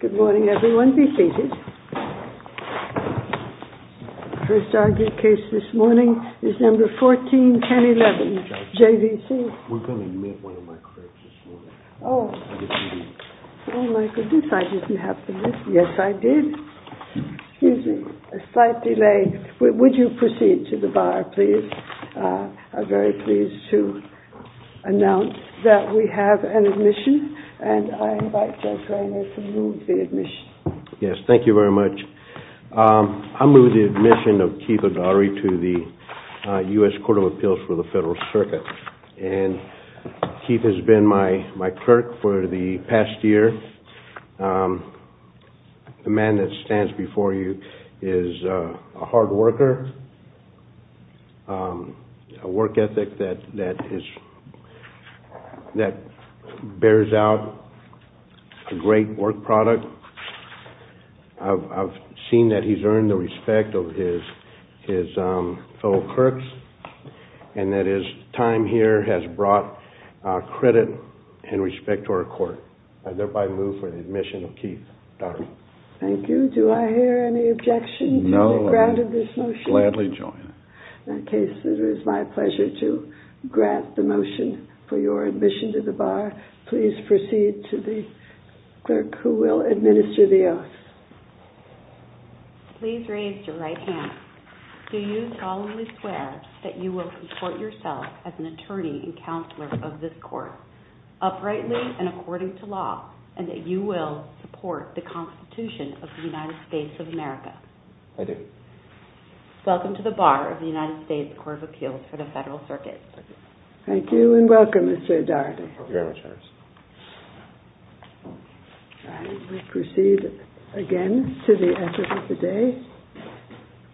Good morning, everyone. Be seated. The first argued case this morning is No. 14-1011, JVC. We're going to admit one of my critics this morning. Oh, my goodness. I didn't have to admit. Yes, I did. Excuse me. A slight delay. Would you proceed to the bar, please? I'm very pleased to announce that we have an admission. And I invite Judge Reiner to move the admission. Yes, thank you very much. I move the admission of Keith Agari to the U.S. Court of Appeals for the Federal Circuit. And Keith has been my critic for the past year. The man that stands before you is a hard worker, a work ethic that bears out a great work product. I've seen that he's earned the respect of his fellow clerks, and that his time here has brought credit and respect to our court. I thereby move for the admission of Keith Agari. Thank you. Do I hear any objection to the grant of this motion? No, I would gladly join. In that case, it is my pleasure to grant the motion for your admission to the bar. Please proceed to the clerk who will administer the oath. Please raise your right hand. Do you solemnly swear that you will support yourself as an attorney and counselor of this court, uprightly and according to law, and that you will support the Constitution of the United States of America? I do. Welcome to the bar of the United States Court of Appeals for the Federal Circuit. Thank you, and welcome, Mr. Agari. Thank you very much. We proceed again to the evidence of the day.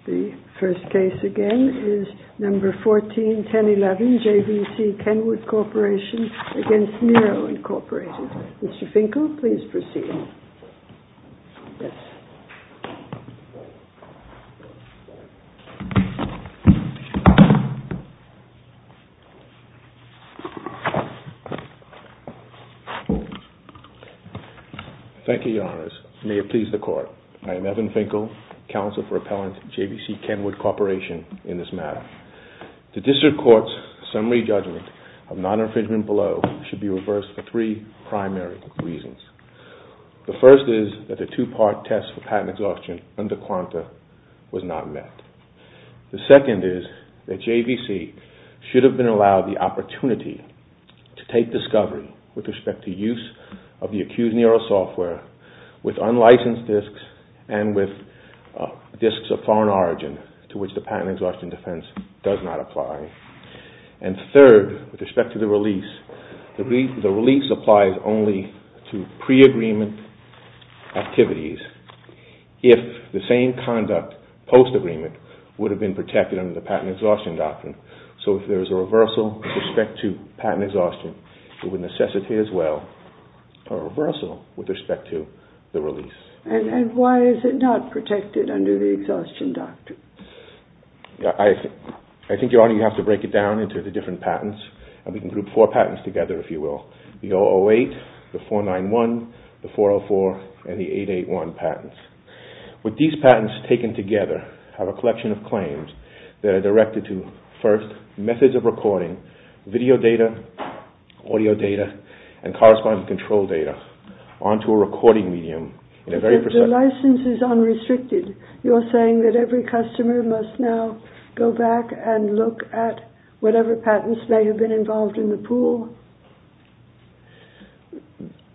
The first case again is number 14-1011, JVC Kenwood Corporation against Miro Incorporated. Mr. Finkel, please proceed. Thank you, Your Honors. May it please the Court. I am Evan Finkel, Counsel for Appellants at JVC Kenwood Corporation in this matter. The District Court's summary judgment of non-infringement below should be reversed for three primary reasons. The first is that the two-part test for patent exhaustion under QANTA was not met. The second is that JVC should have been allowed the opportunity to take discovery with respect to use of the accused neural software with unlicensed disks and with disks of foreign origin to which the patent exhaustion defense does not apply. And third, with respect to the release, the release applies only to pre-agreement activities if the same conduct post-agreement would have been protected under the patent exhaustion doctrine. So if there is a reversal with respect to patent exhaustion, it would necessitate as well a reversal with respect to the release. And why is it not protected under the exhaustion doctrine? I think, Your Honor, you have to break it down into the different patents. We can group four patents together, if you will. The 008, the 491, the 404, and the 881 patents. These patents taken together have a collection of claims that are directed to, first, methods of recording, video data, audio data, and corresponding control data onto a recording medium in a very precise way. But the license is unrestricted. You're saying that every customer must now go back and look at whatever patents may have been involved in the pool?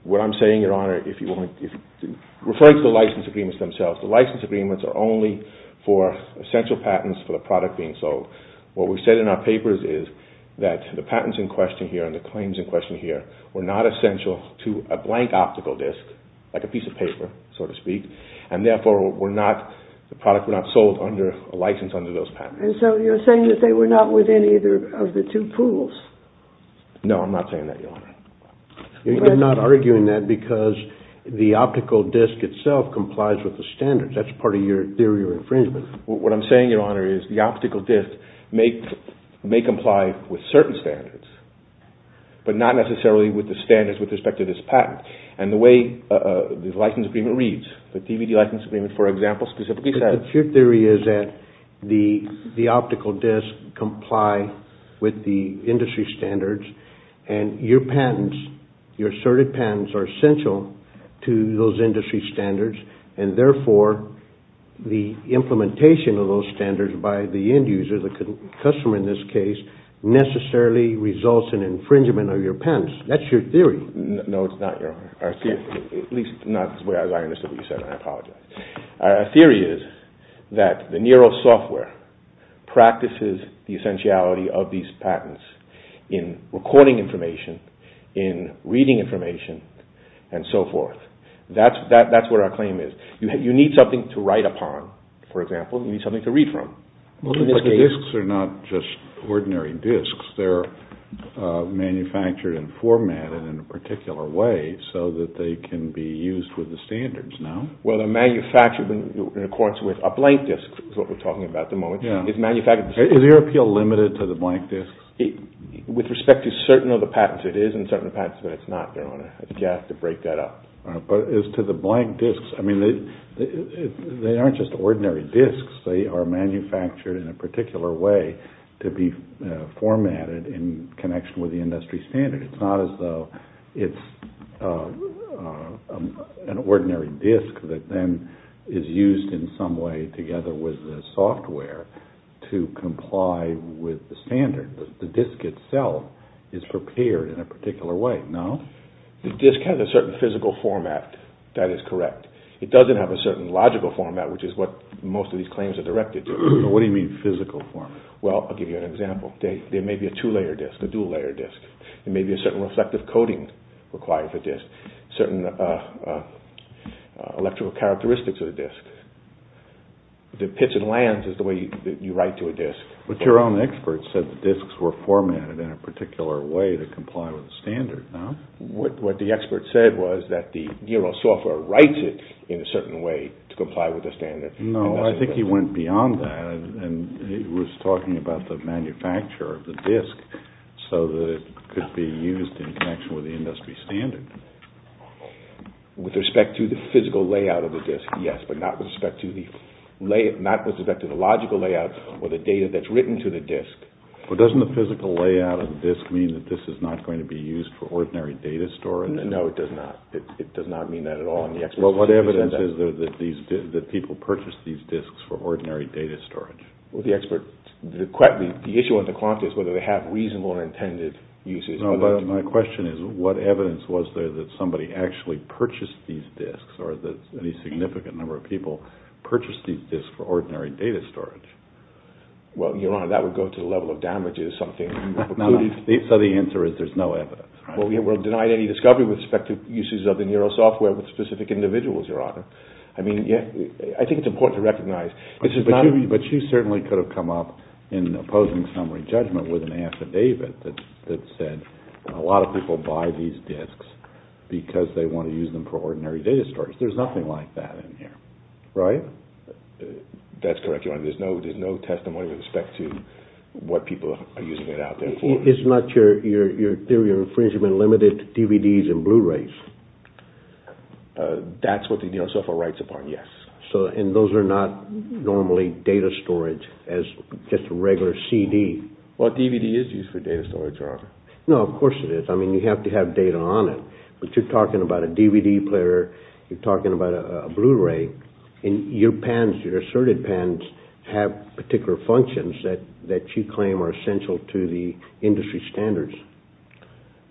What I'm saying, Your Honor, referring to the license agreements themselves, the license agreements are only for essential patents for the product being sold. What we've said in our papers is that the patents in question here and the claims in question here were not essential to a blank optical disk, like a piece of paper, so to speak, and therefore the product were not sold under a license under those patents. And so you're saying that they were not within either of the two pools? No, I'm not saying that, Your Honor. You're not arguing that because the optical disk itself complies with the standards. That's part of your theory of infringement. What I'm saying, Your Honor, is the optical disk may comply with certain standards, but not necessarily with the standards with respect to this patent. And the way the license agreement reads, the DVD license agreement, for example, But your theory is that the optical disk complies with the industry standards and your asserted patents are essential to those industry standards and therefore the implementation of those standards by the end user, the customer in this case, necessarily results in infringement of your patents. That's your theory. No, it's not, Your Honor. At least not as I understood what you said. I apologize. Our theory is that the Nero software practices the essentiality of these patents in recording information, in reading information, and so forth. That's what our claim is. You need something to write upon, for example. You need something to read from. But the disks are not just ordinary disks. They're manufactured and formatted in a particular way so that they can be used with the standards. Well, they're manufactured in accordance with a blank disk, is what we're talking about at the moment. Is your appeal limited to the blank disks? With respect to certain of the patents, it is in certain of the patents, but it's not, Your Honor. You have to break that up. But as to the blank disks, I mean, they aren't just ordinary disks. They are manufactured in a particular way to be formatted in connection with the industry standard. It's not as though it's an ordinary disk that then is used in some way together with the software to comply with the standard. The disk itself is prepared in a particular way, no? The disk has a certain physical format. That is correct. It doesn't have a certain logical format, which is what most of these claims are directed to. What do you mean, physical format? Well, I'll give you an example. There may be a two-layer disk, a dual-layer disk. There may be a certain reflective coating required for a disk, certain electrical characteristics of the disk. The pitch and lands is the way that you write to a disk. But your own expert said the disks were formatted in a particular way to comply with the standard, no? What the expert said was that the software writes it in a certain way to comply with the standard. No, I think he went beyond that, and he was talking about the manufacturer of the disk so that it could be used in connection with the industry standard. With respect to the physical layout of the disk, yes, but not with respect to the logical layout or the data that's written to the disk. But doesn't the physical layout of the disk mean that this is not going to be used for ordinary data storage? No, it does not. It does not mean that at all. What evidence is there that people purchase these disks for ordinary data storage? The issue with the quanta is whether they have reasonable or intended uses. No, but my question is what evidence was there that somebody actually purchased these disks or that any significant number of people purchased these disks for ordinary data storage? Well, Your Honor, that would go to the level of damage. So the answer is there's no evidence. Well, we're denied any discovery with respect to uses of the neural software with specific individuals, Your Honor. I mean, I think it's important to recognize. But you certainly could have come up in opposing summary judgment with an affidavit that said a lot of people buy these disks because they want to use them for ordinary data storage. There's nothing like that in here, right? That's correct, Your Honor. There's no testimony with respect to what people are using it out there for. It's not your theory of infringement limited to DVDs and Blu-rays? That's what the neural software writes upon, yes. And those are not normally data storage as just a regular CD? Well, a DVD is used for data storage, Your Honor. No, of course it is. I mean, you have to have data on it. But you're talking about a DVD player. You're talking about a Blu-ray. And your PANs, your asserted PANs, have particular functions that you claim are essential to the industry standards.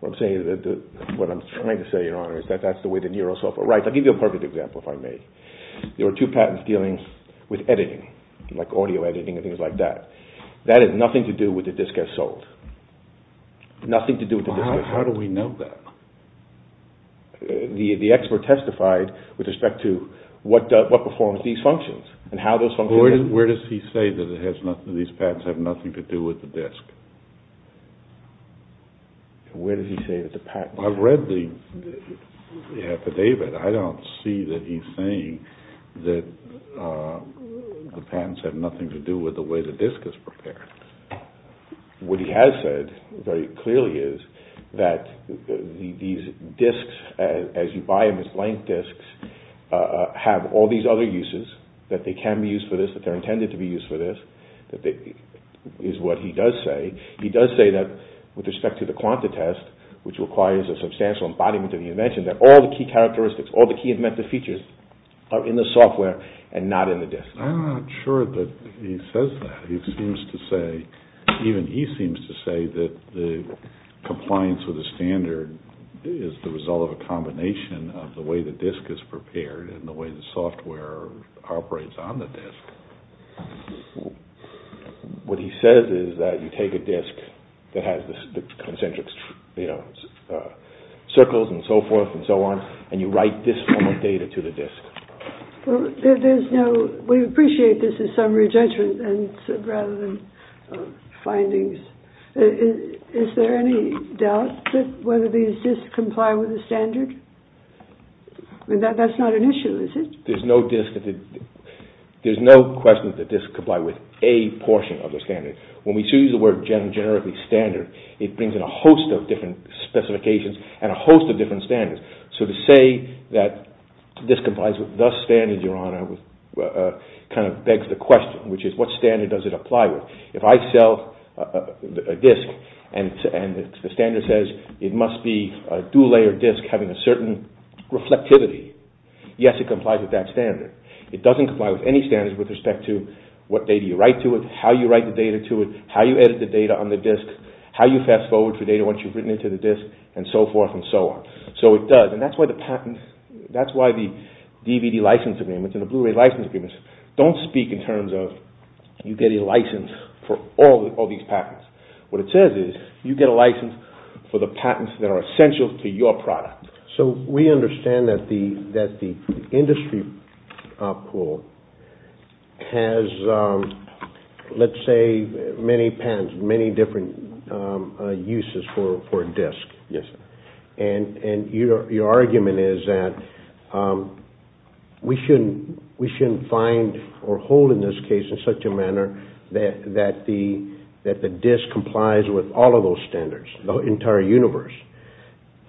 Well, I'm saying that what I'm trying to say, Your Honor, is that that's the way the neural software writes. I'll give you a perfect example, if I may. There were two patents dealing with editing, like audio editing and things like that. That had nothing to do with the disk as sold. Nothing to do with the disk as sold. Well, how do we know that? The expert testified with respect to what performs these functions and how those functions work. Well, where does he say that these patents have nothing to do with the disk? Where does he say that the patents have nothing to do with the disk? I've read the affidavit. I don't see that he's saying that the patents have nothing to do with the way the disk is prepared. What he has said very clearly is that these disks, as you buy them as blank disks, have all these other uses, that they can be used for this, that they're intended to be used for this, is what he does say. He does say that, with respect to the quanta test, which requires a substantial embodiment of the invention, that all the key characteristics, all the key inventive features are in the software and not in the disk. I'm not sure that he says that. He seems to say, even he seems to say that the compliance with the standard is the result of a combination of the way the disk is prepared and the way the software operates on the disk. What he says is that you take a disk that has the concentric circles and so forth and so on, and you write this form of data to the disk. We appreciate this as summary judgment rather than findings. Is there any doubt that whether these disks comply with the standard? That's not an issue, is it? There's no question that the disks comply with a portion of the standard. When we choose the word generically standard, it brings in a host of different specifications and a host of different standards. So to say that this complies with the standard, Your Honor, kind of begs the question, which is what standard does it apply with? If I sell a disk and the standard says it must be a dual-layered disk having a certain reflectivity, yes, it complies with that standard. It doesn't comply with any standard with respect to what data you write to it, how you write the data to it, how you edit the data on the disk, how you fast-forward for data once you've written it to the disk, and so forth and so on. So it does, and that's why the patents, that's why the DVD license agreements and the Blu-ray license agreements don't speak in terms of you get a license for all these patents. What it says is you get a license for the patents that are essential to your product. So we understand that the industry pool has, let's say, many patents, many different uses for a disk. Yes, sir. And your argument is that we shouldn't find or hold in this case in such a manner that the disk complies with all of those standards, the entire universe.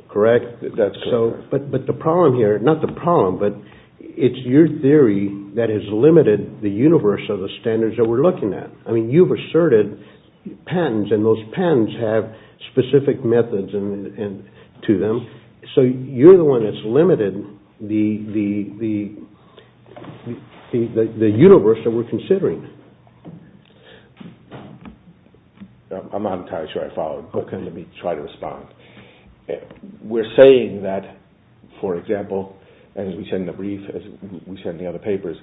Correct? That's correct. But the problem here, not the problem, but it's your theory that has limited the universe of the standards that we're looking at. I mean, you've asserted patents, and those patents have specific methods to them. So you're the one that's limited the universe that we're considering. I'm not entirely sure I followed. Let me try to respond. We're saying that, for example, as we said in the brief, as we said in the other papers,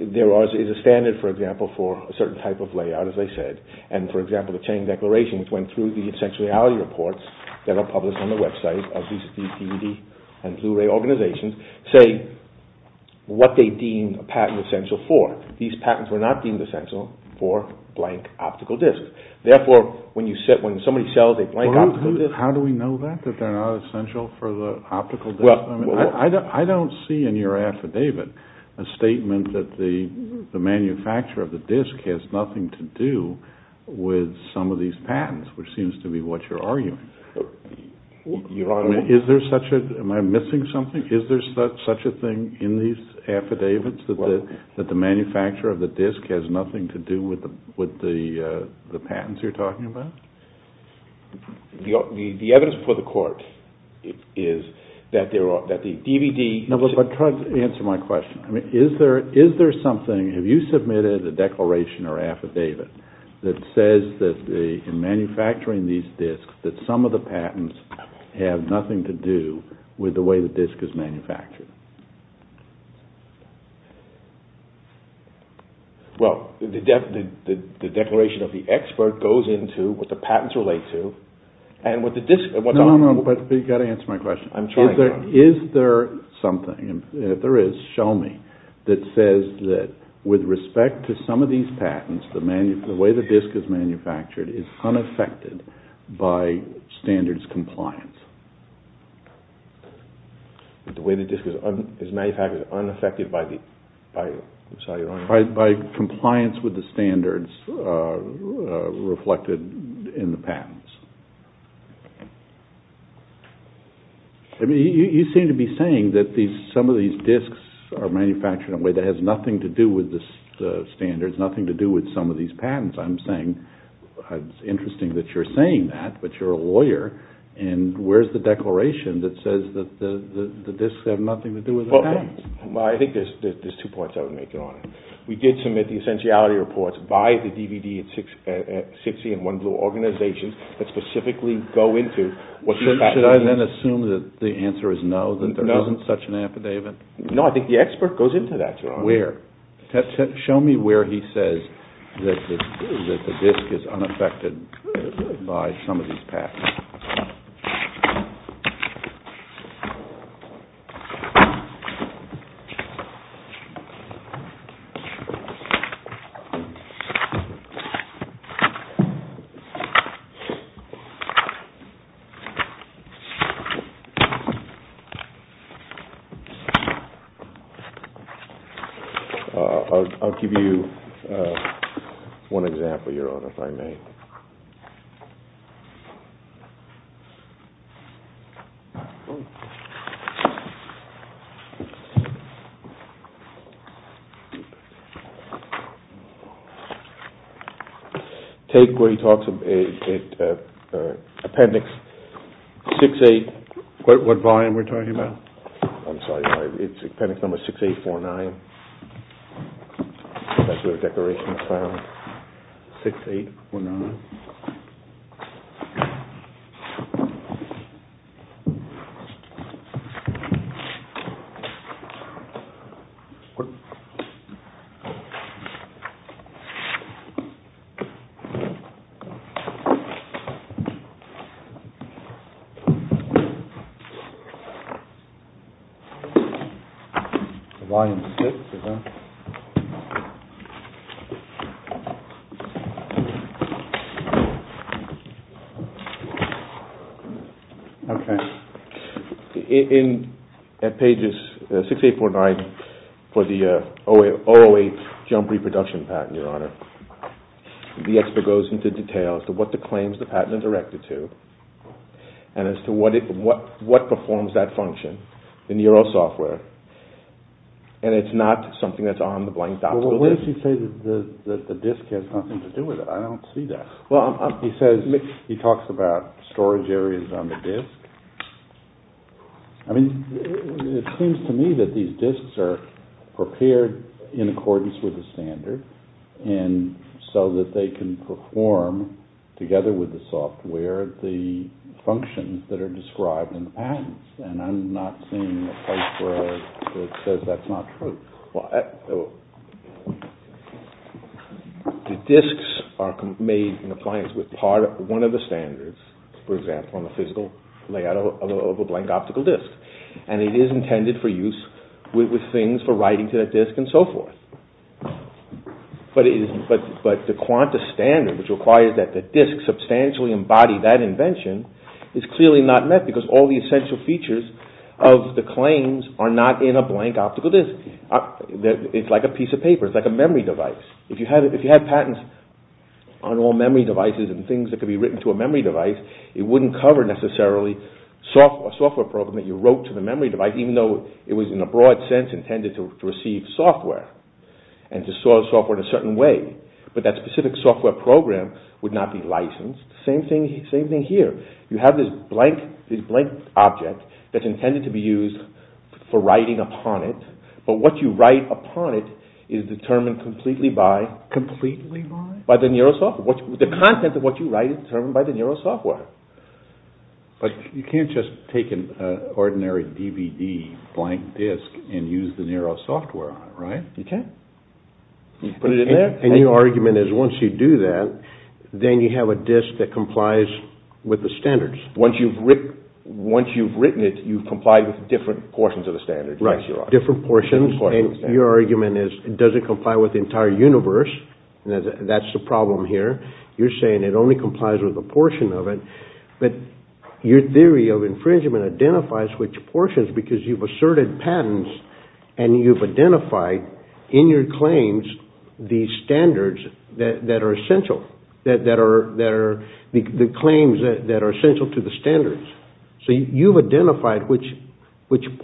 there is a standard, for example, for a certain type of layout, as I said. And, for example, the Chain Declaration, which went through the essential reality reports that are published on the website of these DVD and Blu-ray organizations, say what they deem a patent essential for. These patents were not deemed essential for blank optical disks. Therefore, when somebody sells a blank optical disk— How do we know that, that they're not essential for the optical disk? I don't see in your affidavit a statement that the manufacturer of the disk has nothing to do with some of these patents, which seems to be what you're arguing. Your Honor— Am I missing something? Is there such a thing in these affidavits that the manufacturer of the disk has nothing to do with the patents you're talking about? The evidence before the Court is that the DVD— No, but try to answer my question. Is there something—have you submitted a declaration or affidavit that says that in manufacturing these disks that some of the patents have nothing to do with the way the disk is manufactured? Well, the declaration of the expert goes into what the patents relate to, and what the disk— No, no, no, but you've got to answer my question. I'm trying to. Is there something—if there is, show me—that says that with respect to some of these patents, the way the disk is manufactured is unaffected by standards compliance? The way the disk is manufactured is unaffected by—I'm sorry, Your Honor? By compliance with the standards reflected in the patents. I mean, you seem to be saying that some of these disks are manufactured in a way that has nothing to do with the standards, nothing to do with some of these patents. I'm saying it's interesting that you're saying that, but you're a lawyer, and where's the declaration that says that the disks have nothing to do with the patents? Well, I think there's two points I would make, Your Honor. We did submit the essentiality reports by the DVD at 60 and One Blue organizations that specifically go into what these patents mean. Should I then assume that the answer is no, that there isn't such an affidavit? No, I think the expert goes into that, Your Honor. Where? Show me where he says that the disk is unaffected by some of these patents. I'll give you one example, Your Honor, if I may. Take where he talks about Appendix 68— What volume we're talking about? I'm sorry, it's Appendix Number 6849. That's where the declaration is found. 6849. Volume 6, is that? Okay. In pages 6849 for the 008 Jump Reproduction Patent, Your Honor, the expert goes into detail as to what the claims the patent is directed to and as to what performs that function in the ERO software, and it's not something that's on the blank document. Well, what does he say that the disk has nothing to do with it? I don't see that. Well, he talks about storage areas on the disk. I mean, it seems to me that these disks are prepared in accordance with the standard so that they can perform, together with the software, the functions that are described in the patents, and I'm not seeing a place where it says that's not true. The disks are made in compliance with one of the standards, for example, on the physical layout of a blank optical disk, and it is intended for use with things for writing to the disk and so forth. But the QANTAS standard, which requires that the disk substantially embody that invention, is clearly not met because all the essential features of the claims are not in a blank optical disk. It's like a piece of paper. It's like a memory device. If you had patents on all memory devices and things that could be written to a memory device, it wouldn't cover necessarily a software program that you wrote to the memory device, even though it was, in a broad sense, intended to receive software and to store software in a certain way. But that specific software program would not be licensed. Same thing here. You have this blank object that's intended to be used for writing upon it, but what you write upon it is determined completely by the neural software. The content of what you write is determined by the neural software. But you can't just take an ordinary DVD blank disk and use the neural software on it, right? You can't. You put it in there. And your argument is once you do that, then you have a disk that complies with the standards. Once you've written it, you've complied with different portions of the standards. Right. Different portions. And your argument is it doesn't comply with the entire universe. That's the problem here. You're saying it only complies with a portion of it. But your theory of infringement identifies which portions because you've asserted patents and you've identified in your claims the standards that are essential, the claims that are essential to the standards. So you've identified which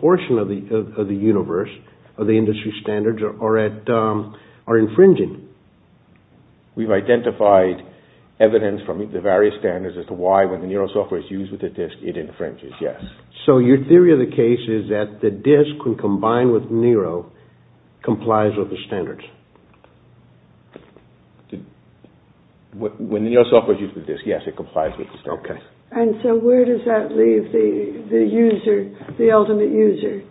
portion of the universe, of the industry standards, are infringing. We've identified evidence from the various standards as to why when the neural software is used with the disk, it infringes, yes. So your theory of the case is that the disk, when combined with Neuro, complies with the standards. When the neural software is used with the disk, yes, it complies with the standards. And so where does that leave the user, the ultimate user,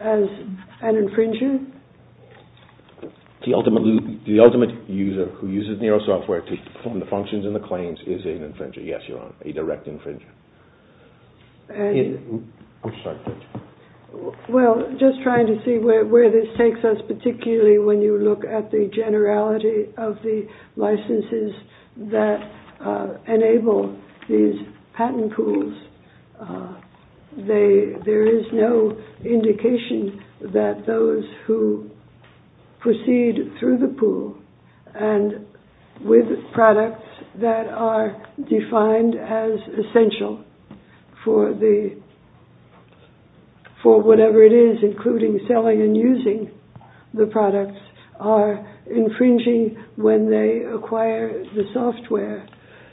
as an infringer? The ultimate user who uses neural software to perform the functions and the claims is an infringer. Yes, Your Honor, a direct infringer. Well, just trying to see where this takes us, particularly when you look at the generality of the licenses that enable these patent pools, there is no indication that those who proceed through the pool and with products that are defined as essential for whatever it is, including selling and using the products, are infringing when they acquire the software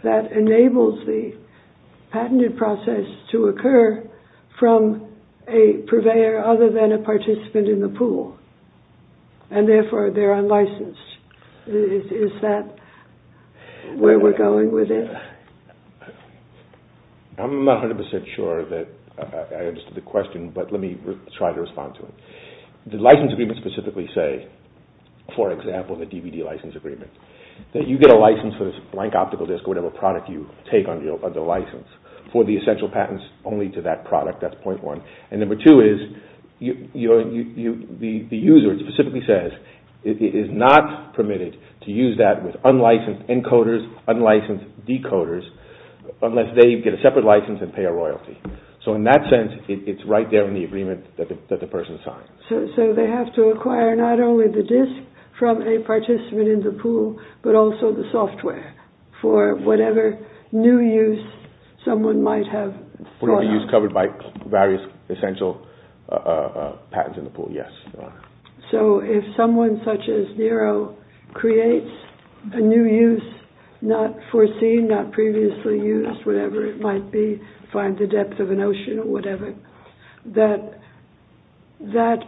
that enables the patented process to occur from a purveyor other than a participant in the pool. And therefore, they're unlicensed. Is that where we're going with it? I'm not 100% sure that I understood the question, but let me try to respond to it. The license agreements specifically say, for example, the DVD license agreement, that you get a license for this blank optical disk or whatever product you take under the license for the essential patents only to that product, that's point one. And number two is the user specifically says it is not permitted to use that with unlicensed encoders, unlicensed decoders, unless they get a separate license and pay a royalty. So in that sense, it's right there in the agreement that the person signs. So they have to acquire not only the disk from a participant in the pool, but also the software for whatever new use someone might have. For use covered by various essential patents in the pool, yes. So if someone such as Nero creates a new use, not foreseen, not previously used, whatever it might be, find the depth of an ocean or whatever, that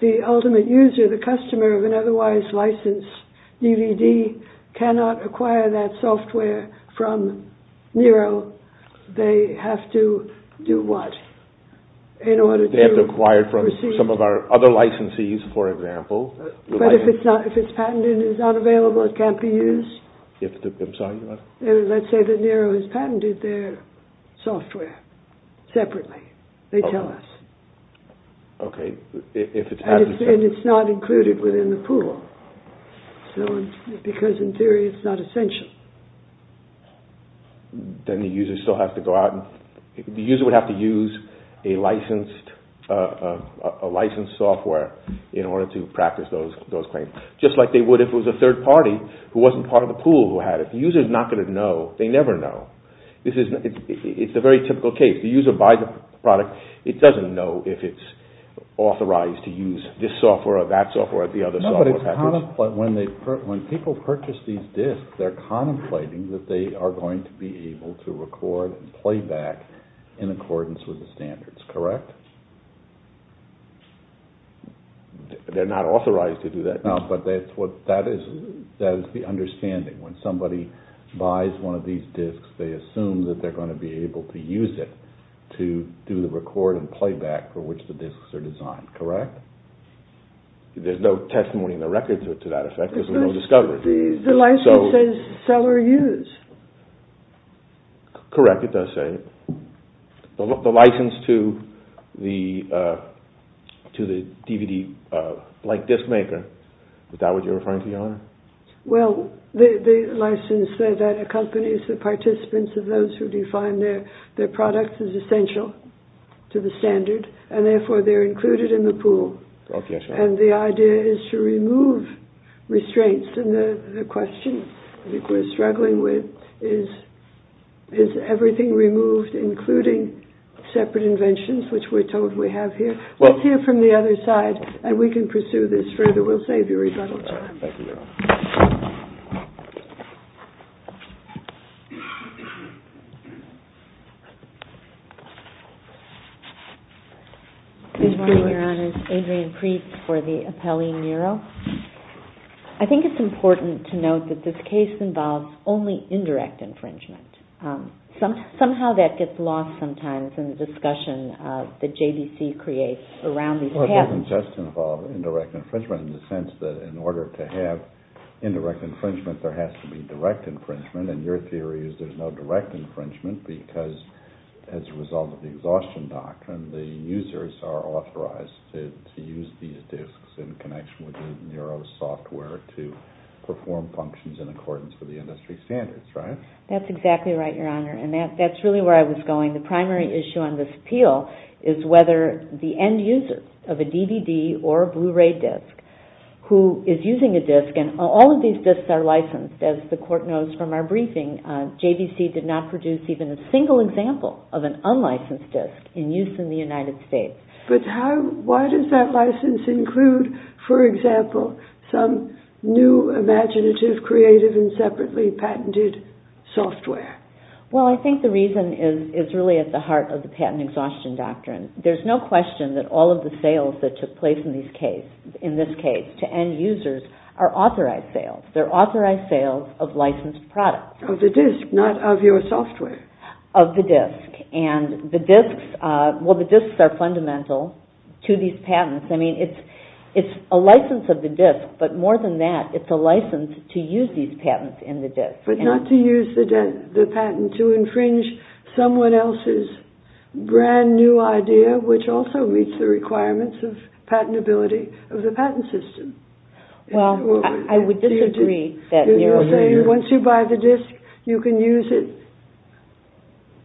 the ultimate user, the customer of an otherwise licensed DVD cannot acquire that software from Nero, they have to do what? They have to acquire it from some of our other licensees, for example. But if it's patented and it's not available, it can't be used? Let's say that Nero has patented their software separately, they tell us. And it's not included within the pool, because in theory it's not essential. Then the user would have to use a licensed software in order to practice those claims. Just like they would if it was a third party who wasn't part of the pool who had it. The user is not going to know. They never know. It's a very typical case. The user buys a product. It doesn't know if it's authorized to use this software or that software or the other software. When people purchase these discs, they're contemplating that they are going to be able to record and playback in accordance with the standards, correct? They're not authorized to do that. That is the understanding. When somebody buys one of these discs, they assume that they're going to be able to use it to do the record and playback for which the discs are designed, correct? There's no testimony in the record to that effect, there's no discovery. The license says seller used. Correct, it does say. The license to the DVD blank disc maker, is that what you're referring to, Your Honor? Well, the license that accompanies the participants of those who define their products is essential to the standard and therefore they're included in the pool. And the idea is to remove restraints in the question. I think we're struggling with is everything removed including separate inventions, which we're told we have here. Let's hear from the other side and we can pursue this further. We'll save you rebuttal time. Good morning, Your Honor. Adrian Preetz for the Appellee Bureau. I think it's important to note that this case involves only indirect infringement. Somehow that gets lost sometimes in the discussion that JBC creates around these patents. Well, it doesn't just involve indirect infringement in the sense that in order to have indirect infringement, there has to be direct infringement. And your theory is there's no direct infringement because as a result of the exhaustion doctrine, the users are authorized to use these discs in connection with the NERO software to perform functions in accordance with the industry standards, right? That's exactly right, Your Honor. And that's really where I was going. The primary issue on this appeal is whether the end user of a DVD or a Blu-ray disc who is using a disc, and all of these discs are licensed, as the court knows from our briefing, JBC did not produce even a single example of an unlicensed disc in use in the United States. But why does that license include, for example, some new imaginative, creative, and separately patented software? Well, I think the reason is really at the heart of the patent exhaustion doctrine. There's no question that all of the sales that took place in this case to end users are authorized sales. They're authorized sales of licensed products. Of the disc, not of your software. Of the disc. And the discs are fundamental to these patents. I mean, it's a license of the disc, but more than that, it's a license to use these patents in the disc. But not to use the idea, which also meets the requirements of patentability of the patent system. Well, I would disagree. You're saying once you buy the disc, you can use it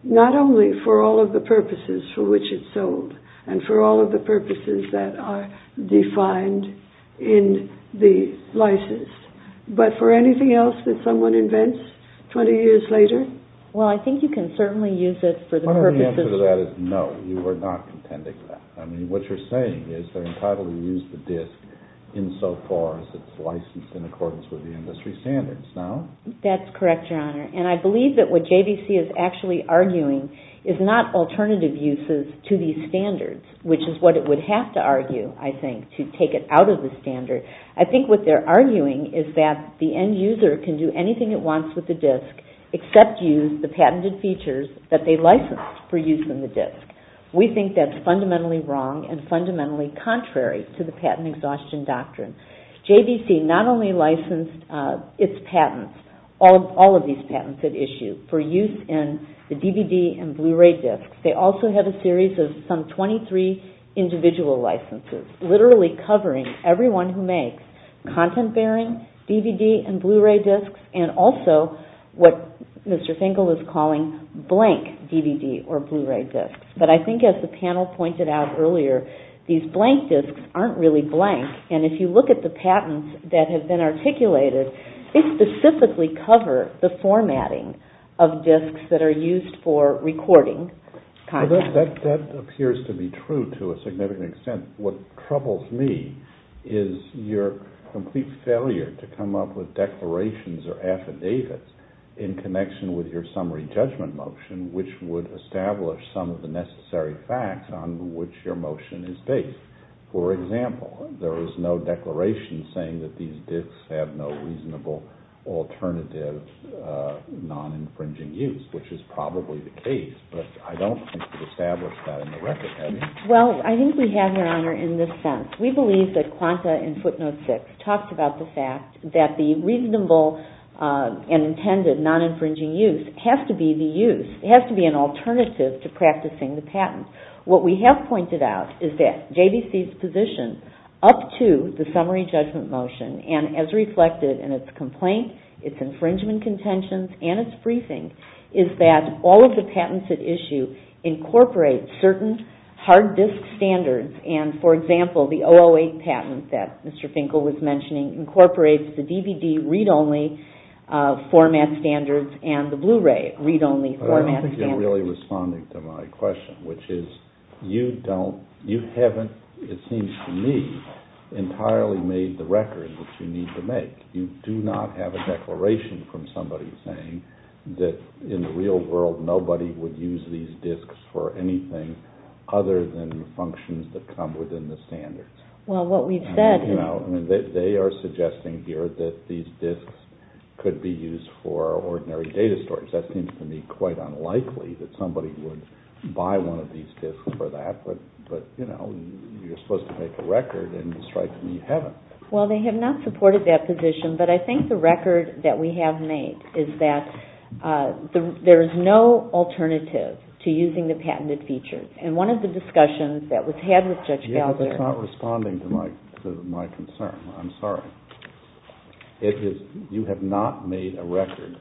not only for all of the purposes for which it's sold, and for all of the purposes that are defined in the license, but for anything else that someone invents 20 years later? Well, I think you can certainly use it for the purposes... No, you are not contending that. I mean, what you're saying is they're entitled to use the disc insofar as it's licensed in accordance with the industry standards, no? That's correct, Your Honor. And I believe that what JVC is actually arguing is not alternative uses to these standards, which is what it would have to argue, I think, to take it out of the standard. I think what they're arguing is that the end user can do anything it wants with the disc except use the patented features that they licensed for use in the disc. We think that's fundamentally wrong and fundamentally contrary to the patent exhaustion doctrine. JVC not only licensed its patents, all of these patents at issue, for use in the DVD and Blu-ray discs, they also had a series of some 23 individual licenses literally covering everyone who makes content-bearing DVD and Blu-ray discs and also what Mr. Finkel is calling blank DVD or Blu-ray discs. But I think as the panel pointed out earlier, these blank discs aren't really blank, and if you look at the patents that have been articulated, they specifically cover the formatting of discs that are used for recording content. That appears to be true to a significant extent. What troubles me is your complete failure to come up with declarations or affidavits in connection with your summary judgment motion, which would establish some of the necessary facts on which your motion is based. For example, there is no declaration saying that these discs have no reasonable alternative non-infringing use, which is probably the case, but I don't think we've established that in the record, have we? Well, I think we have, Your Honor, in this sense. We believe that Quanta and Footnote 6 talked about the fact that the reasonable and intended non-infringing use has to be the use. It has to be an alternative to practicing the patent. What we have pointed out is that JBC's position up to the summary judgment motion, and as reflected in its complaint, its infringement contentions, and its briefing, is that all of the patents at issue incorporate certain hard disc standards. For example, the 008 patent that Mr. Finkel was mentioning incorporates the DVD read-only format standards and the Blu-ray read-only format standards. I don't think you're really responding to my question, which is you haven't, it seems to me, entirely made the record that you need to make. You do not have a declaration from somebody saying that in the real world nobody would use these discs for anything other than functions that come within the standards. They are suggesting here that these discs could be used for ordinary data storage. That seems to me quite unlikely that somebody would buy one of these discs for that, but you're supposed to make a record, and it strikes me you haven't. Well, they have not supported that position, but I think the record that we have made is that there is no alternative to using the patented features. And one of the discussions that was had with Judge Gallagher You're not responding to my concern. I'm sorry. You have not made a record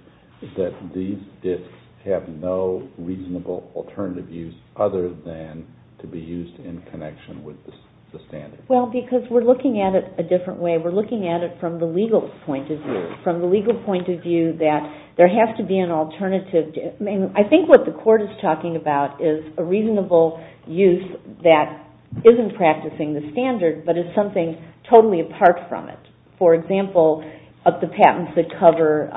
that these discs have no reasonable alternative use other than to be used in connection with the standards. Well, because we're looking at it a different way. We're looking at it from the legal point of view. There has to be an alternative. I think what the court is talking about is a reasonable use that isn't practicing the standard, but is something totally apart from it. For example, of the patents that cover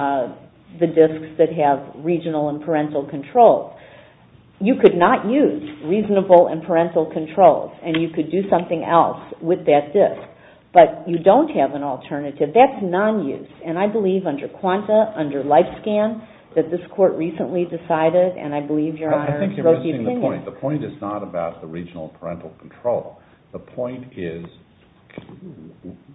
the discs that have regional and parental control. You could not use reasonable and parental control, and you could do something else with that disc. But you don't have an alternative. That's non-use. And I believe under Quanta, under LifeScan, that this court recently decided, and I believe Your Honor wrote the opinion. I think you're missing the point. The point is not about the regional and parental control. The point is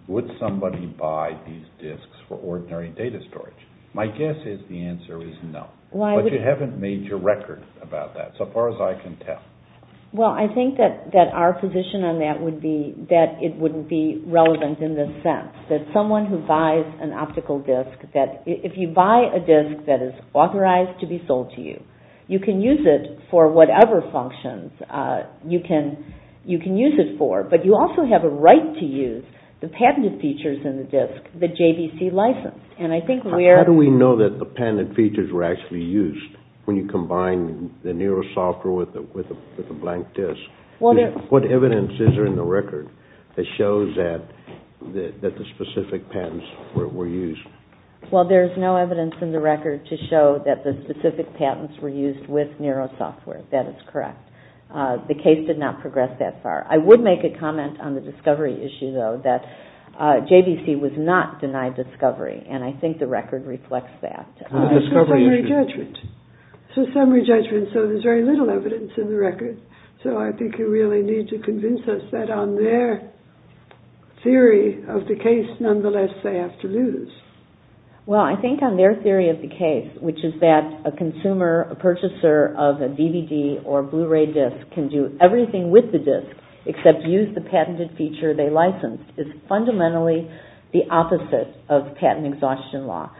would somebody buy these discs for ordinary data storage? My guess is the answer is no. But you haven't made your record about that, so far as I can tell. Well, I think that our position on that would be that it wouldn't be relevant in this sense. That someone who buys an optical disc, that if you buy a disc that is authorized to be sold to you, you can use it for whatever functions you can use it for. But you also have a right to use the patented features in the disc that JVC licensed. And I think where... What evidence is there in the record that shows that the specific patents were used? Well, there's no evidence in the record to show that the specific patents were used with Nero software. That is correct. The case did not progress that far. I would make a comment on the discovery issue, though, that JVC was not denied discovery. And I think the record reflects that. It's a summary judgment, so there's very little evidence in the record. So I think you really need to convince us that on their theory of the case, nonetheless, they have to lose. Well, I think on their theory of the case, which is that a consumer, a purchaser of a DVD or a Blu-ray disc can do everything with the disc, except use the patented feature they licensed, is fundamentally the opposite of patent exhaustion law.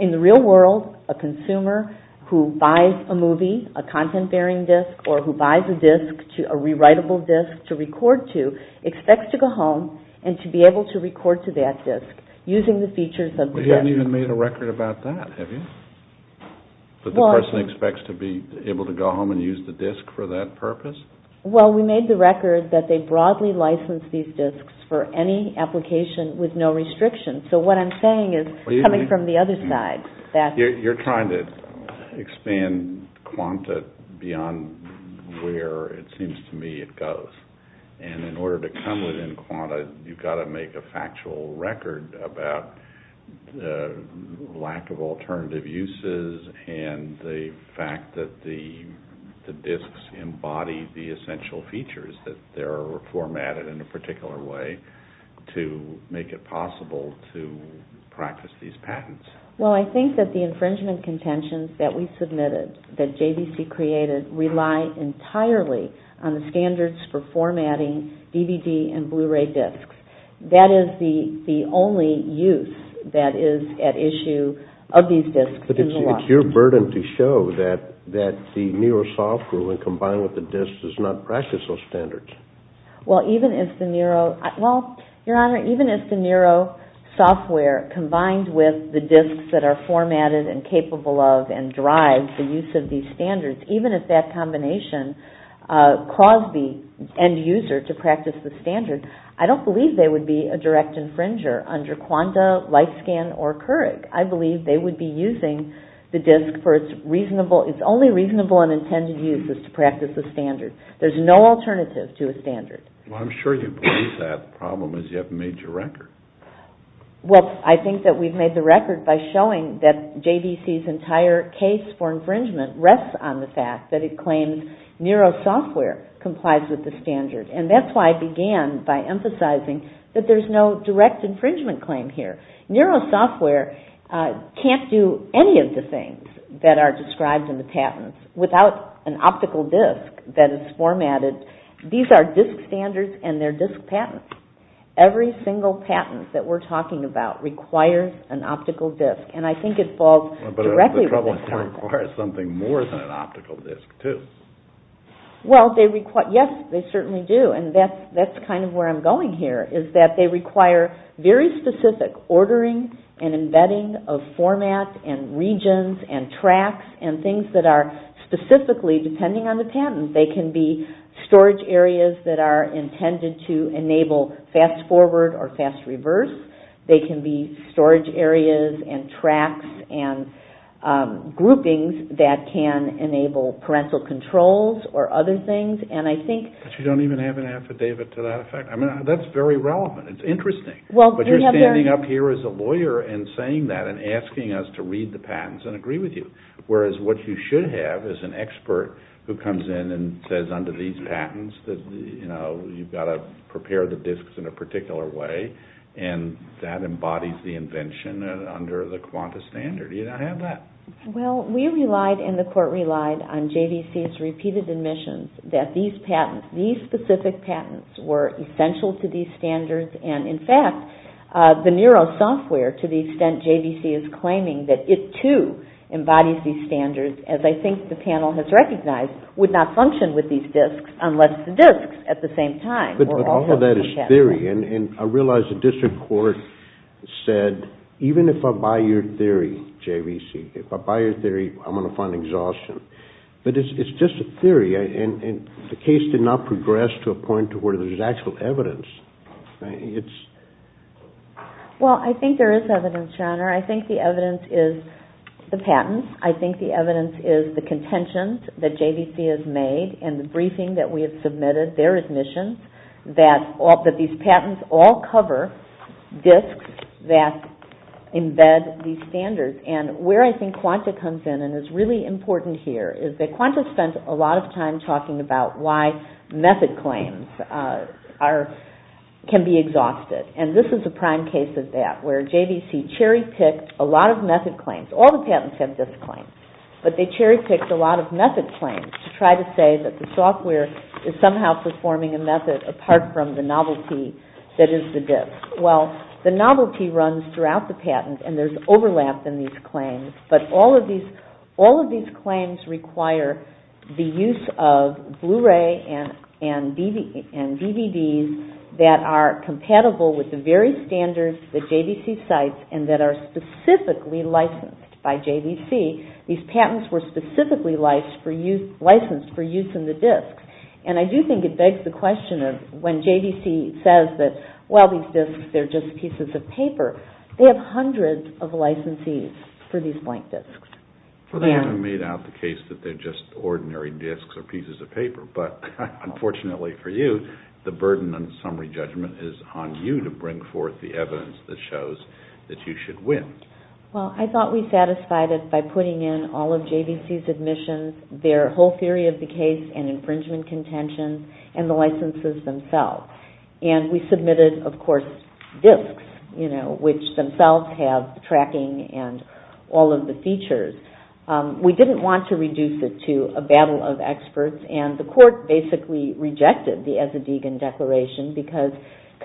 In the real world, a consumer who buys a movie, a content-bearing disc, or who buys a disc, a rewritable disc to record to, expects to go home and to be able to record to that disc using the features of the disc. But you haven't even made a record about that, have you? That the person expects to be able to go home and use the disc for that purpose? Well, we made the record that they broadly license these discs for any application with no restrictions. So what I'm saying is coming from the other side. You're trying to expand QANTA beyond where it seems to me it goes. And in order to come within QANTA, you've got to make a factual record about the lack of alternative uses and the fact that the discs embody the essential features that are formatted in a particular way to make it possible to practice these patents. Well, I think that the infringement contentions that we submitted, that JVC created, rely entirely on the standards for formatting DVD and Blu-ray discs. That is the It's your burden to show that the NERO software when combined with the discs does not practice those standards. Even if the NERO software combined with the discs that are formatted and capable of and drive the use of these standards, even if that combination caused the end user to practice the standards, I don't believe they would be a direct the disc for its only reasonable and intended use is to practice the standard. There's no alternative to a standard. Well, I think that we've made the record by showing that JVC's entire case for infringement rests on the fact that it claims NERO software complies with the standard. And that's why I began by emphasizing that there's no direct that are described in the patents without an optical disc that is formatted. These are disc standards and they're disc patents. Every single patent that we're talking about requires an optical disc. And I think it falls directly requires something more than an optical disc, too. Yes, they certainly do. And that's kind of where I'm going here, is that they require very specific ordering and embedding of format and regions and tracks and things that are specifically, depending on the patent, they can be storage areas that are intended to enable fast forward or fast reverse. They can be storage areas and tracks and groupings that can enable parental controls or other things. But you don't even have an affidavit to that effect. I mean, that's very relevant. It's interesting. But you're standing up here as a lawyer and saying that and asking us to read the patents and agree with you. Whereas what you should have is an expert who comes in and says under these patents that you've got to prepare the discs in a particular way and that embodies the invention under the Qantas standard. You don't have that. Well, we relied and the court relied on JVC's repeated admissions that these specific patents were essential to these standards. And in fact, the NERO software, to the extent JVC is claiming that it, too, embodies these standards, as I think the panel has recognized, would not function with these discs unless the discs at the same time were also compatible. It's just a theory. And I realize the district court said, even if I buy your theory, JVC, if I buy your theory, I'm going to find exhaustion. But it's just a theory. And the case did not progress to a point to where there's actual evidence. Well, I think there is evidence, Your Honor. I think the evidence is the patents. I think the evidence is the contentions that the patents all cover discs that embed these standards. And where I think Qantas comes in and is really important here is that Qantas spent a lot of time talking about why method claims can be exhausted. And this is a prime case of that, where JVC cherry-picked a lot of method claims. All the patents have disc claims, but they cherry-picked a lot of method claims to try to say that the software is somehow performing a method apart from the novelty that is the disc. Well, the novelty runs throughout the patent, and there's overlap in these claims. But all of these claims require the use of Blu-ray and DVDs that are compatible with the very standards that JVC cites and that are specifically licensed by JVC. These patents were specifically licensed for use in the discs. And I do think it begs the question of when JVC says that, well, these discs, they're just pieces of paper, they have hundreds of licensees for these blank discs. They haven't made out the case that they're just ordinary discs or pieces of paper. But unfortunately for you, the burden on summary judgment is on you to bring forth the evidence that shows that you should win. Well, I thought we satisfied it by putting in all of JVC's admissions, their whole theory of the case, and infringement contentions, and the licenses themselves. And we submitted, of course, discs, which themselves have tracking and all of the features. We didn't want to reduce it to a battle of experts, and the court basically rejected the Eszedegan Declaration because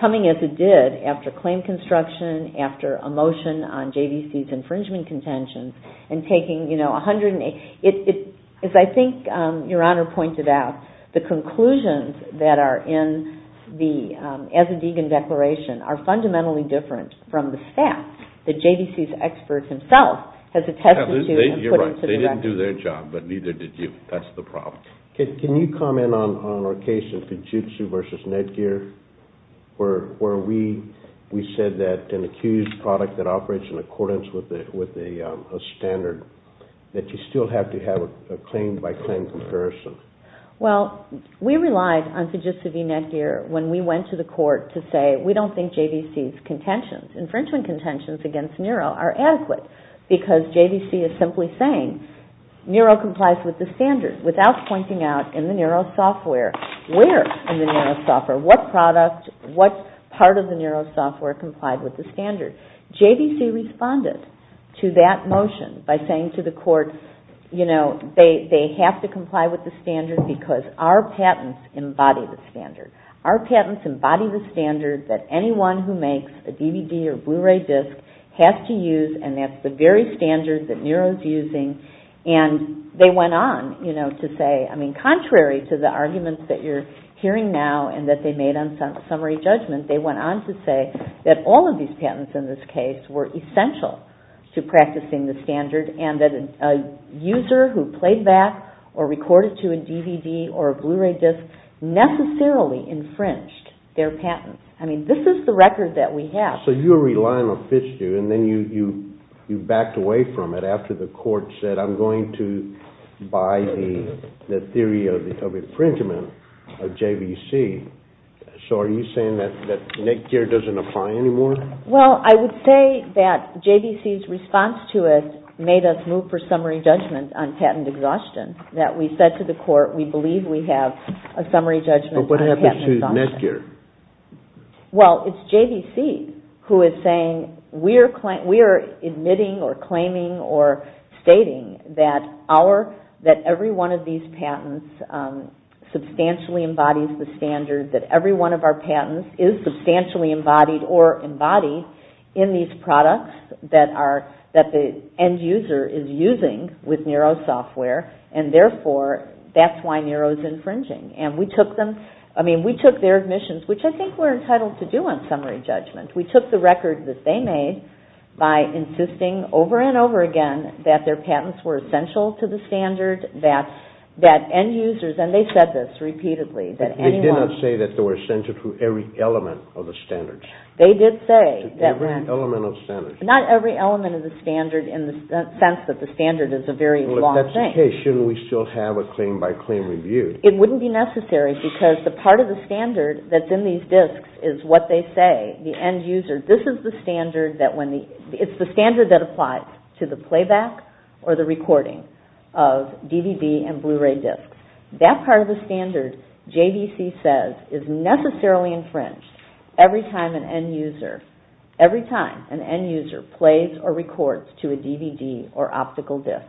coming as it did, after claim construction, after a motion on JVC's infringement contentions, and taking, you know, a hundred and eight, as I think Your Honor pointed out, the conclusions that are in the Eszedegan Declaration are fundamentally different from the fact that JVC's expert himself has attested to and put into the record. You're right. They didn't do their job, but neither did you. That's the problem. Can you comment on our case of Fujitsu versus Netgear, where we said that an accused product that operates in accordance with a standard, that you still have to have a claim-by-claim comparison? Well, we relied on Fujitsu v. Netgear when we went to the court to say, we don't think JVC's contentions, infringement contentions against Nero are adequate, because JVC is simply saying, Nero complies with the standard, without pointing out in the Nero software, where in the Nero software, what product, what part of the Nero software complied with the standard. JVC responded to that motion by saying to the court, you know, they have to comply with the standard because our patents embody the standard. Our patents embody the standard that anyone who makes a DVD or Blu-ray disc has to use, and that's the very standard that Nero's using. And they went on to say, I mean, contrary to the arguments that you're hearing now and that they made on summary judgment, they went on to say that all of these patents in this case were essential to practicing the standard, and that a user who played back or recorded to a DVD or a Blu-ray disc necessarily infringed their patent. I mean, this is the record that we have. So you're relying on Fitzhugh, and then you backed away from it after the court said, I'm going to buy the theory of infringement of JVC. So are you saying that Netgear doesn't apply anymore? Well, I would say that JVC's response to it made us move for summary judgment on patent exhaustion, that we said to the court, we believe we have a summary judgment on patent exhaustion. But what happens to Netgear? Well, it's JVC who is saying, we are admitting or claiming or stating that every one of these patents substantially embodies the standard, that every one of our patents is substantially embodied or embodied in these products that the end user is using with NERO software, and therefore that's why NERO is infringing. And we took their admissions, which I think we're entitled to do on summary judgment. We took the record that they made by insisting over and over again that their patents were essential to the standard, that end users, and they said this repeatedly. They did not say that they were essential to every element of the standards. Not every element of the standard in the sense that the standard is a very long thing. Well, if that's the case, shouldn't we still have a claim by claim review? It wouldn't be necessary because the part of the standard that's in these disks is what they say. The end user, this is the standard that when the, it's the standard that applies to the playback or the recording of DVD and Blu-ray disks. That part of the standard, JVC says, is necessarily infringed every time an end user, every time an end user plays or records to a DVD or optical disk.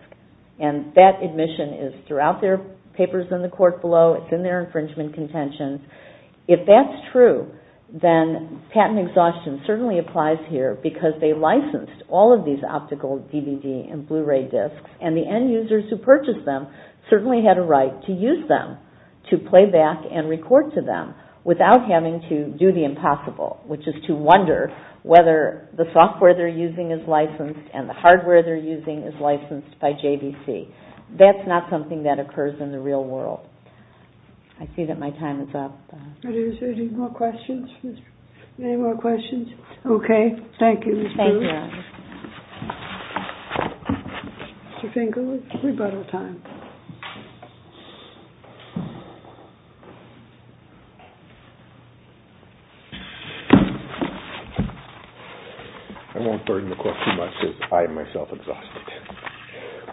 And that admission is throughout their papers in the court below. It's in their infringement contentions. If that's true, then patent exhaustion certainly applies here because they licensed all of these optical DVD and Blu-ray disks and the end users who purchased them certainly had a right to use them to play back and record to them without having to do the impossible, which is to wonder whether the software they're using is licensed and the hardware they're using is licensed by JVC. That's not something that occurs in the real world. I see that my time is up. Any more questions? Okay. Thank you. I won't burden the court too much because I am myself exhausted.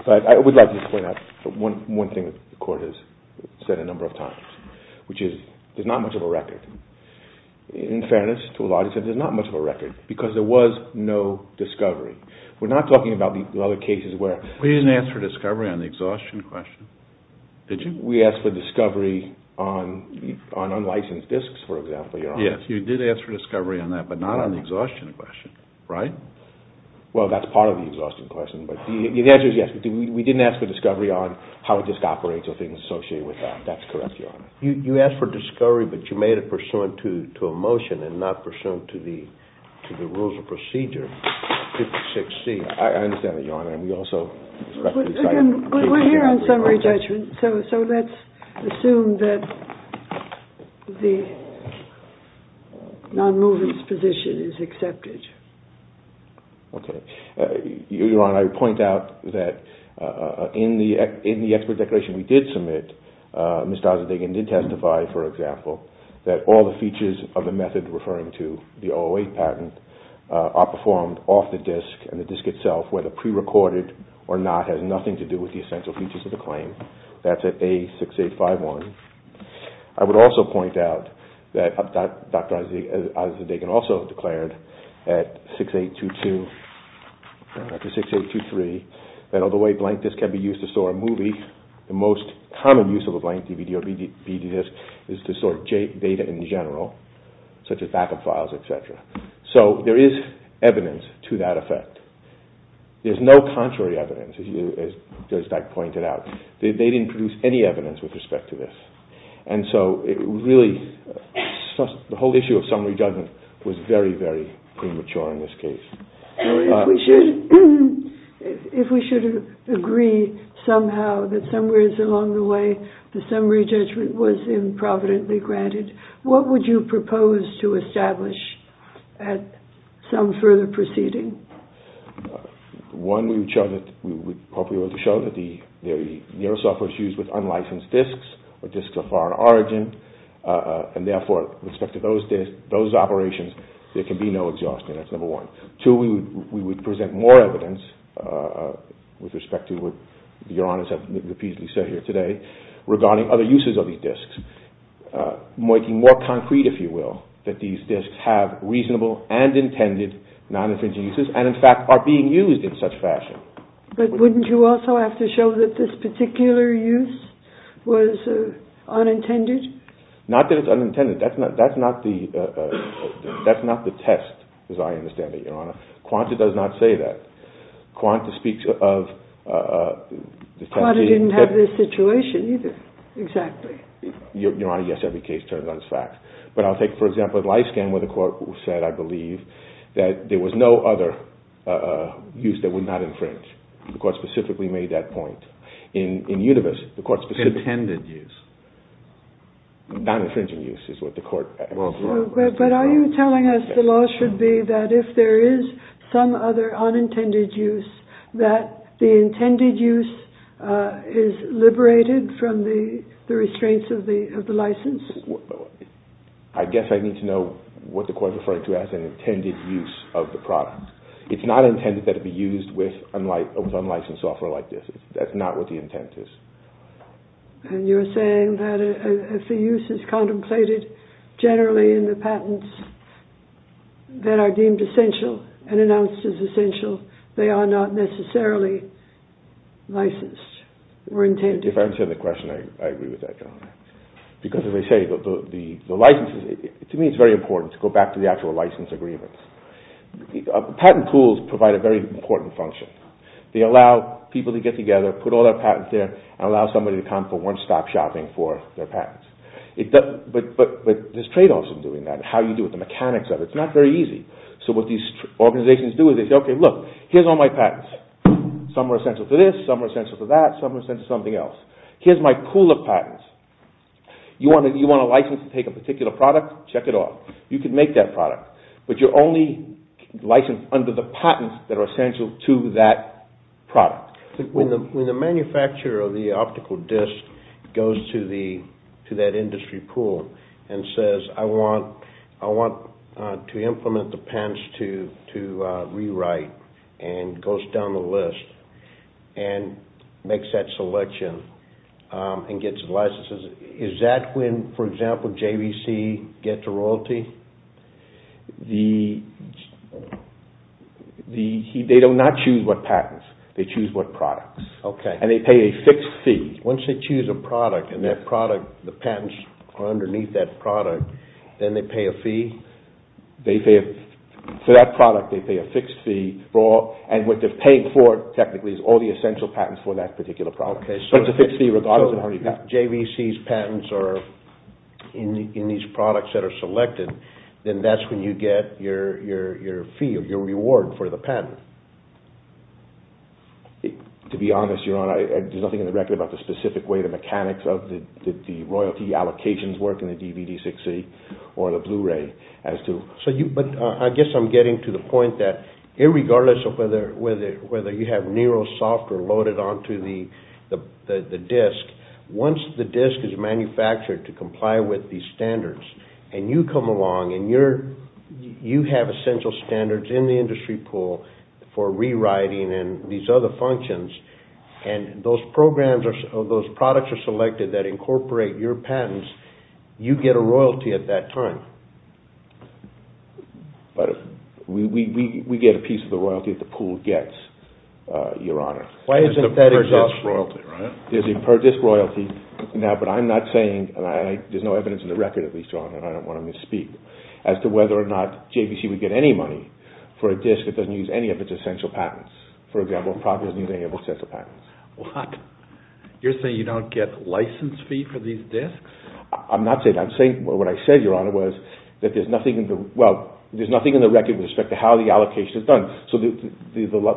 But I would like to point out one thing the court has said a number of times, which is there's not much of a record. In fairness to a lot of it, there's not much of a record because there was no discovery. We're not talking about the other cases where... We didn't ask for discovery on the exhaustion question, did you? We asked for discovery on unlicensed disks, for example, Your Honor. Yes, you did ask for discovery on that, but not on the exhaustion question, right? Well, that's part of the exhaustion question, but the answer is yes. We didn't ask for discovery on how a disk operates or things associated with that. That's correct, Your Honor. You asked for discovery, but you made it pursuant to a motion and not pursuant to the rules of procedure 56C. I understand that, Your Honor. Again, we're here on summary judgment, so let's assume that the non-movement's position is accepted. Okay. Your Honor, I would point out that in the expert declaration we did submit, Ms. Dazadigan did testify, for example, that all the features of the method referring to the 008 patent are performed off the disk and the disk itself, whether prerecorded or not, has nothing to do with the essential features of the claim. That's at A6851. I would also point out that Dr. Dazadigan also declared at 6822 to 6823 that although a blank disk can be used to store a movie, the most common use of a blank DVD or BD disk is to store data in general, such as backup files, et cetera. So there is evidence to that effect. There's no contrary evidence, as Judge Dyke pointed out. They didn't produce any evidence with respect to this. The whole issue of summary judgment was very, very premature in this case. If we should agree somehow that somewhere along the way the summary judgment was improvidently granted, what would you propose to establish at some further proceeding? One, we would show that the neural software is used with unlicensed disks, or disks of foreign origin, and therefore, with respect to those operations, there can be no exhaustion. That's number one. Two, we would present more evidence with respect to what Your Honor has repeatedly said here today regarding other uses of these disks, making more concrete, if you will, that these disks have reasonable and intended non-infringing uses, and in fact are being used in such fashion. But wouldn't you also have to show that this particular use was unintended? Not that it's unintended. That's not the test, as I understand it, Your Honor. Quanta does not say that. Quanta speaks of... Quanta didn't have this situation either, exactly. Your Honor, yes, every case turns on its facts. But I'll take, for example, a life scan where the court said, I believe, that there was no other use that would not infringe. The court specifically made that point. In Univis, the court specifically... Intended use. Non-infringing use is what the court... But are you telling us the law should be that if there is some other unintended use, that the intended use is liberated from the restraints of the license? I guess I need to know what the court is referring to as an intended use of the product. It's not intended that it be used with unlicensed software like this. That's not what the intent is. And you're saying that if the use is contemplated generally in the patents that are deemed essential and announced as essential, they are not necessarily licensed or intended? If I understand the question, I agree with that, Your Honor. Because, as I say, the licenses... To me, it's very important to go back to the actual license agreements. Patent pools provide a very important function. They allow people to get together, put all their patents there, and allow somebody to come for one-stop shopping for their patents. But there's trade-offs in doing that and how you do it, the mechanics of it. It's not very easy. So what these organizations do is they say, okay, look, here's all my patents. Some are essential to this, some are essential to that, some are essential to something else. Here's my pool of patents. You want a license to take a particular product? Check it off. You can make that product, but you're only licensed under the patents that are essential to that product. When the manufacturer of the optical disc goes to that industry pool and says, I want to implement the patents to rewrite, and goes down the list, and makes that selection, and gets licenses, is that when, for example, JVC gets a royalty? They do not choose what patents. They choose what products. And they pay a fixed fee. Once they choose a product, and the patents are underneath that product, then they pay a fee. For that product, they pay a fixed fee. And what they're paying for, technically, is all the essential patents for that particular product. So if JVC's patents are in these products that are selected, then that's when you get your fee or your reward for the patent. To be honest, Your Honor, there's nothing in the record about the specific way the mechanics of the royalty allocations work in the DVD6C or the Blu-ray. But I guess I'm getting to the point that regardless of whether you have Nero software loaded onto the disc, once the disc is manufactured to comply with these standards, and you come along and you have essential standards in the industry pool for rewriting and these other functions, and those products are selected that incorporate your patents, you get a royalty at that time. But we get a piece of the royalty that the pool gets, Your Honor. There's a per-disc royalty, right? There's no evidence in the record, at least, Your Honor, and I don't want to misspeak, as to whether or not JVC would get any money for a disc that doesn't use any of its essential patents. For example, a product that doesn't use any of its essential patents. You're saying you don't get a license fee for these discs? I'm not saying that. What I said, Your Honor, was that there's nothing in the record with respect to how the allocation is done. So the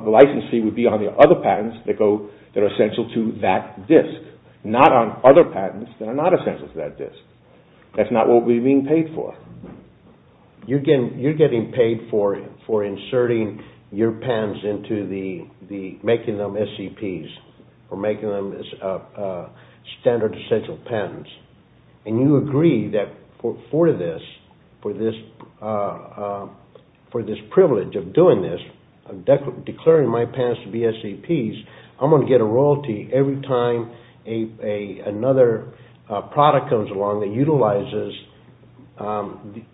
license fee would be on the other patents that are essential to that disc, not on other patents that are not essential to that disc. That's not what we're being paid for. You're getting paid for inserting your patents into the, making them SEPs, or making them standard essential patents. And you agree that for this privilege of doing this, declaring my patents to be SEPs, I'm going to get a royalty every time another product comes along that utilizes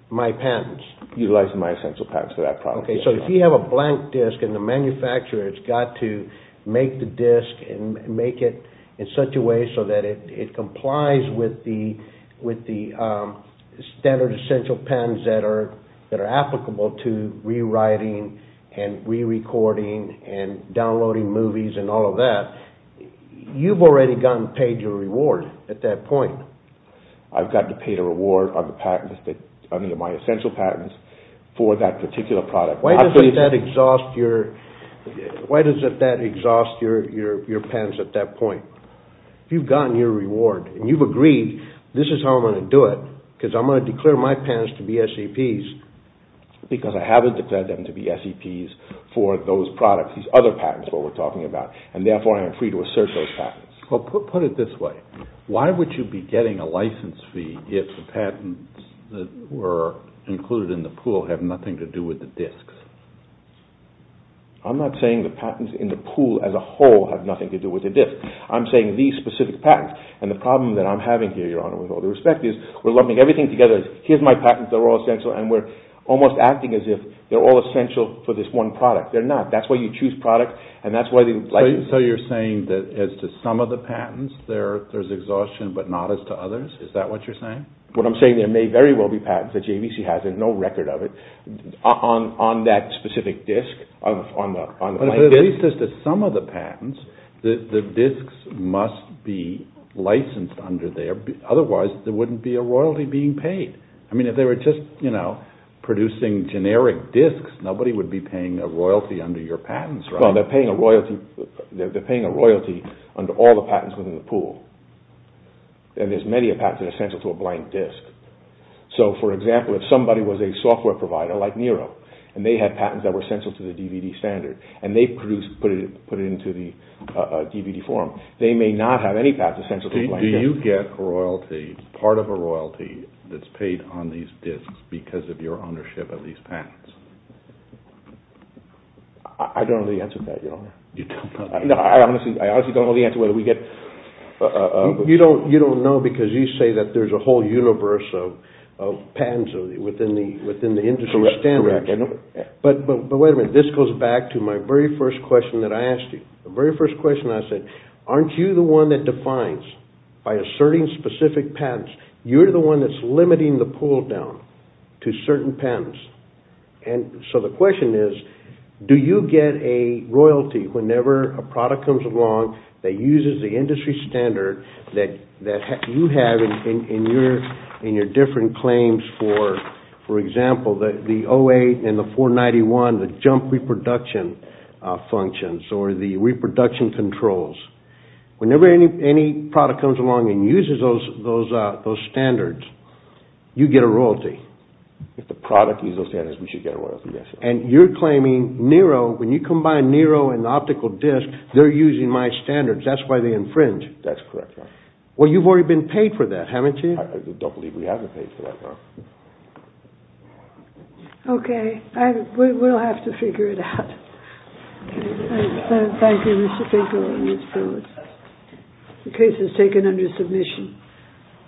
my patents. Utilizing my essential patents for that product. So if you have a blank disc and the manufacturer has got to make the disc and make it in such a way so that it complies with the standard essential patents that are applicable to rewriting and rerecording and downloading movies and all of that, you've already gotten paid your reward at that point. I've gotten paid a reward on my essential patents for that particular product. Why does that exhaust your patents at that point? If you've gotten your reward and you've agreed, this is how I'm going to do it, because I'm going to declare my patents to be SEPs. Because I haven't declared them to be SEPs for those products, these other patents that we're talking about. And therefore I am free to assert those patents. Put it this way. Why would you be getting a license fee if the patents that were included in the pool have nothing to do with the discs? I'm not saying the patents in the pool as a whole have nothing to do with the disc. I'm saying these specific patents. And the problem that I'm having here, Your Honor, with all due respect, is we're lumping everything together. Here's my patents. They're all essential. And we're almost acting as if they're all essential for this one product. They're not. That's why you choose products. So you're saying that as to some of the patents, there's exhaustion, but not as to others? Is that what you're saying? What I'm saying, there may very well be patents that JVC has, there's no record of it, on that specific disc? At least as to some of the patents, the discs must be licensed under there. Otherwise there wouldn't be a royalty being paid. I mean, if they were just producing generic discs, nobody would be paying a royalty under your patents, right? They're paying a royalty under all the patents within the pool. And there's many patents that are essential to a blank disc. So, for example, if somebody was a software provider like Nero, and they had patents that were essential to the DVD standard, and they put it into the DVD form, they may not have any patents essential to a blank disc. Do you get royalty, part of a royalty, that's paid on these discs because of your ownership of these patents? I don't know the answer to that, Your Honor. You don't know because you say that there's a whole universe of patents within the industry standard. But wait a minute, this goes back to my very first question that I asked you. Aren't you the one that defines, by asserting specific patents, you're the one that's limiting the pull-down to certain patents? So the question is, do you get a royalty whenever a product comes along that uses the industry standard that you have in your different claims for, for example, the 08 and the 491, the jump reproduction functions, or the reproduction controls? Whenever any product comes along and uses those standards, you get a royalty. If the product uses those standards, we should get a royalty, yes. And you're claiming Nero, when you combine Nero and the optical disc, they're using my standards. That's why they infringe. Well, you've already been paid for that, haven't you? I don't believe we haven't paid for that, Your Honor. Okay, we'll have to figure it out. Thank you, Mr. Finkel and Ms. Phillips.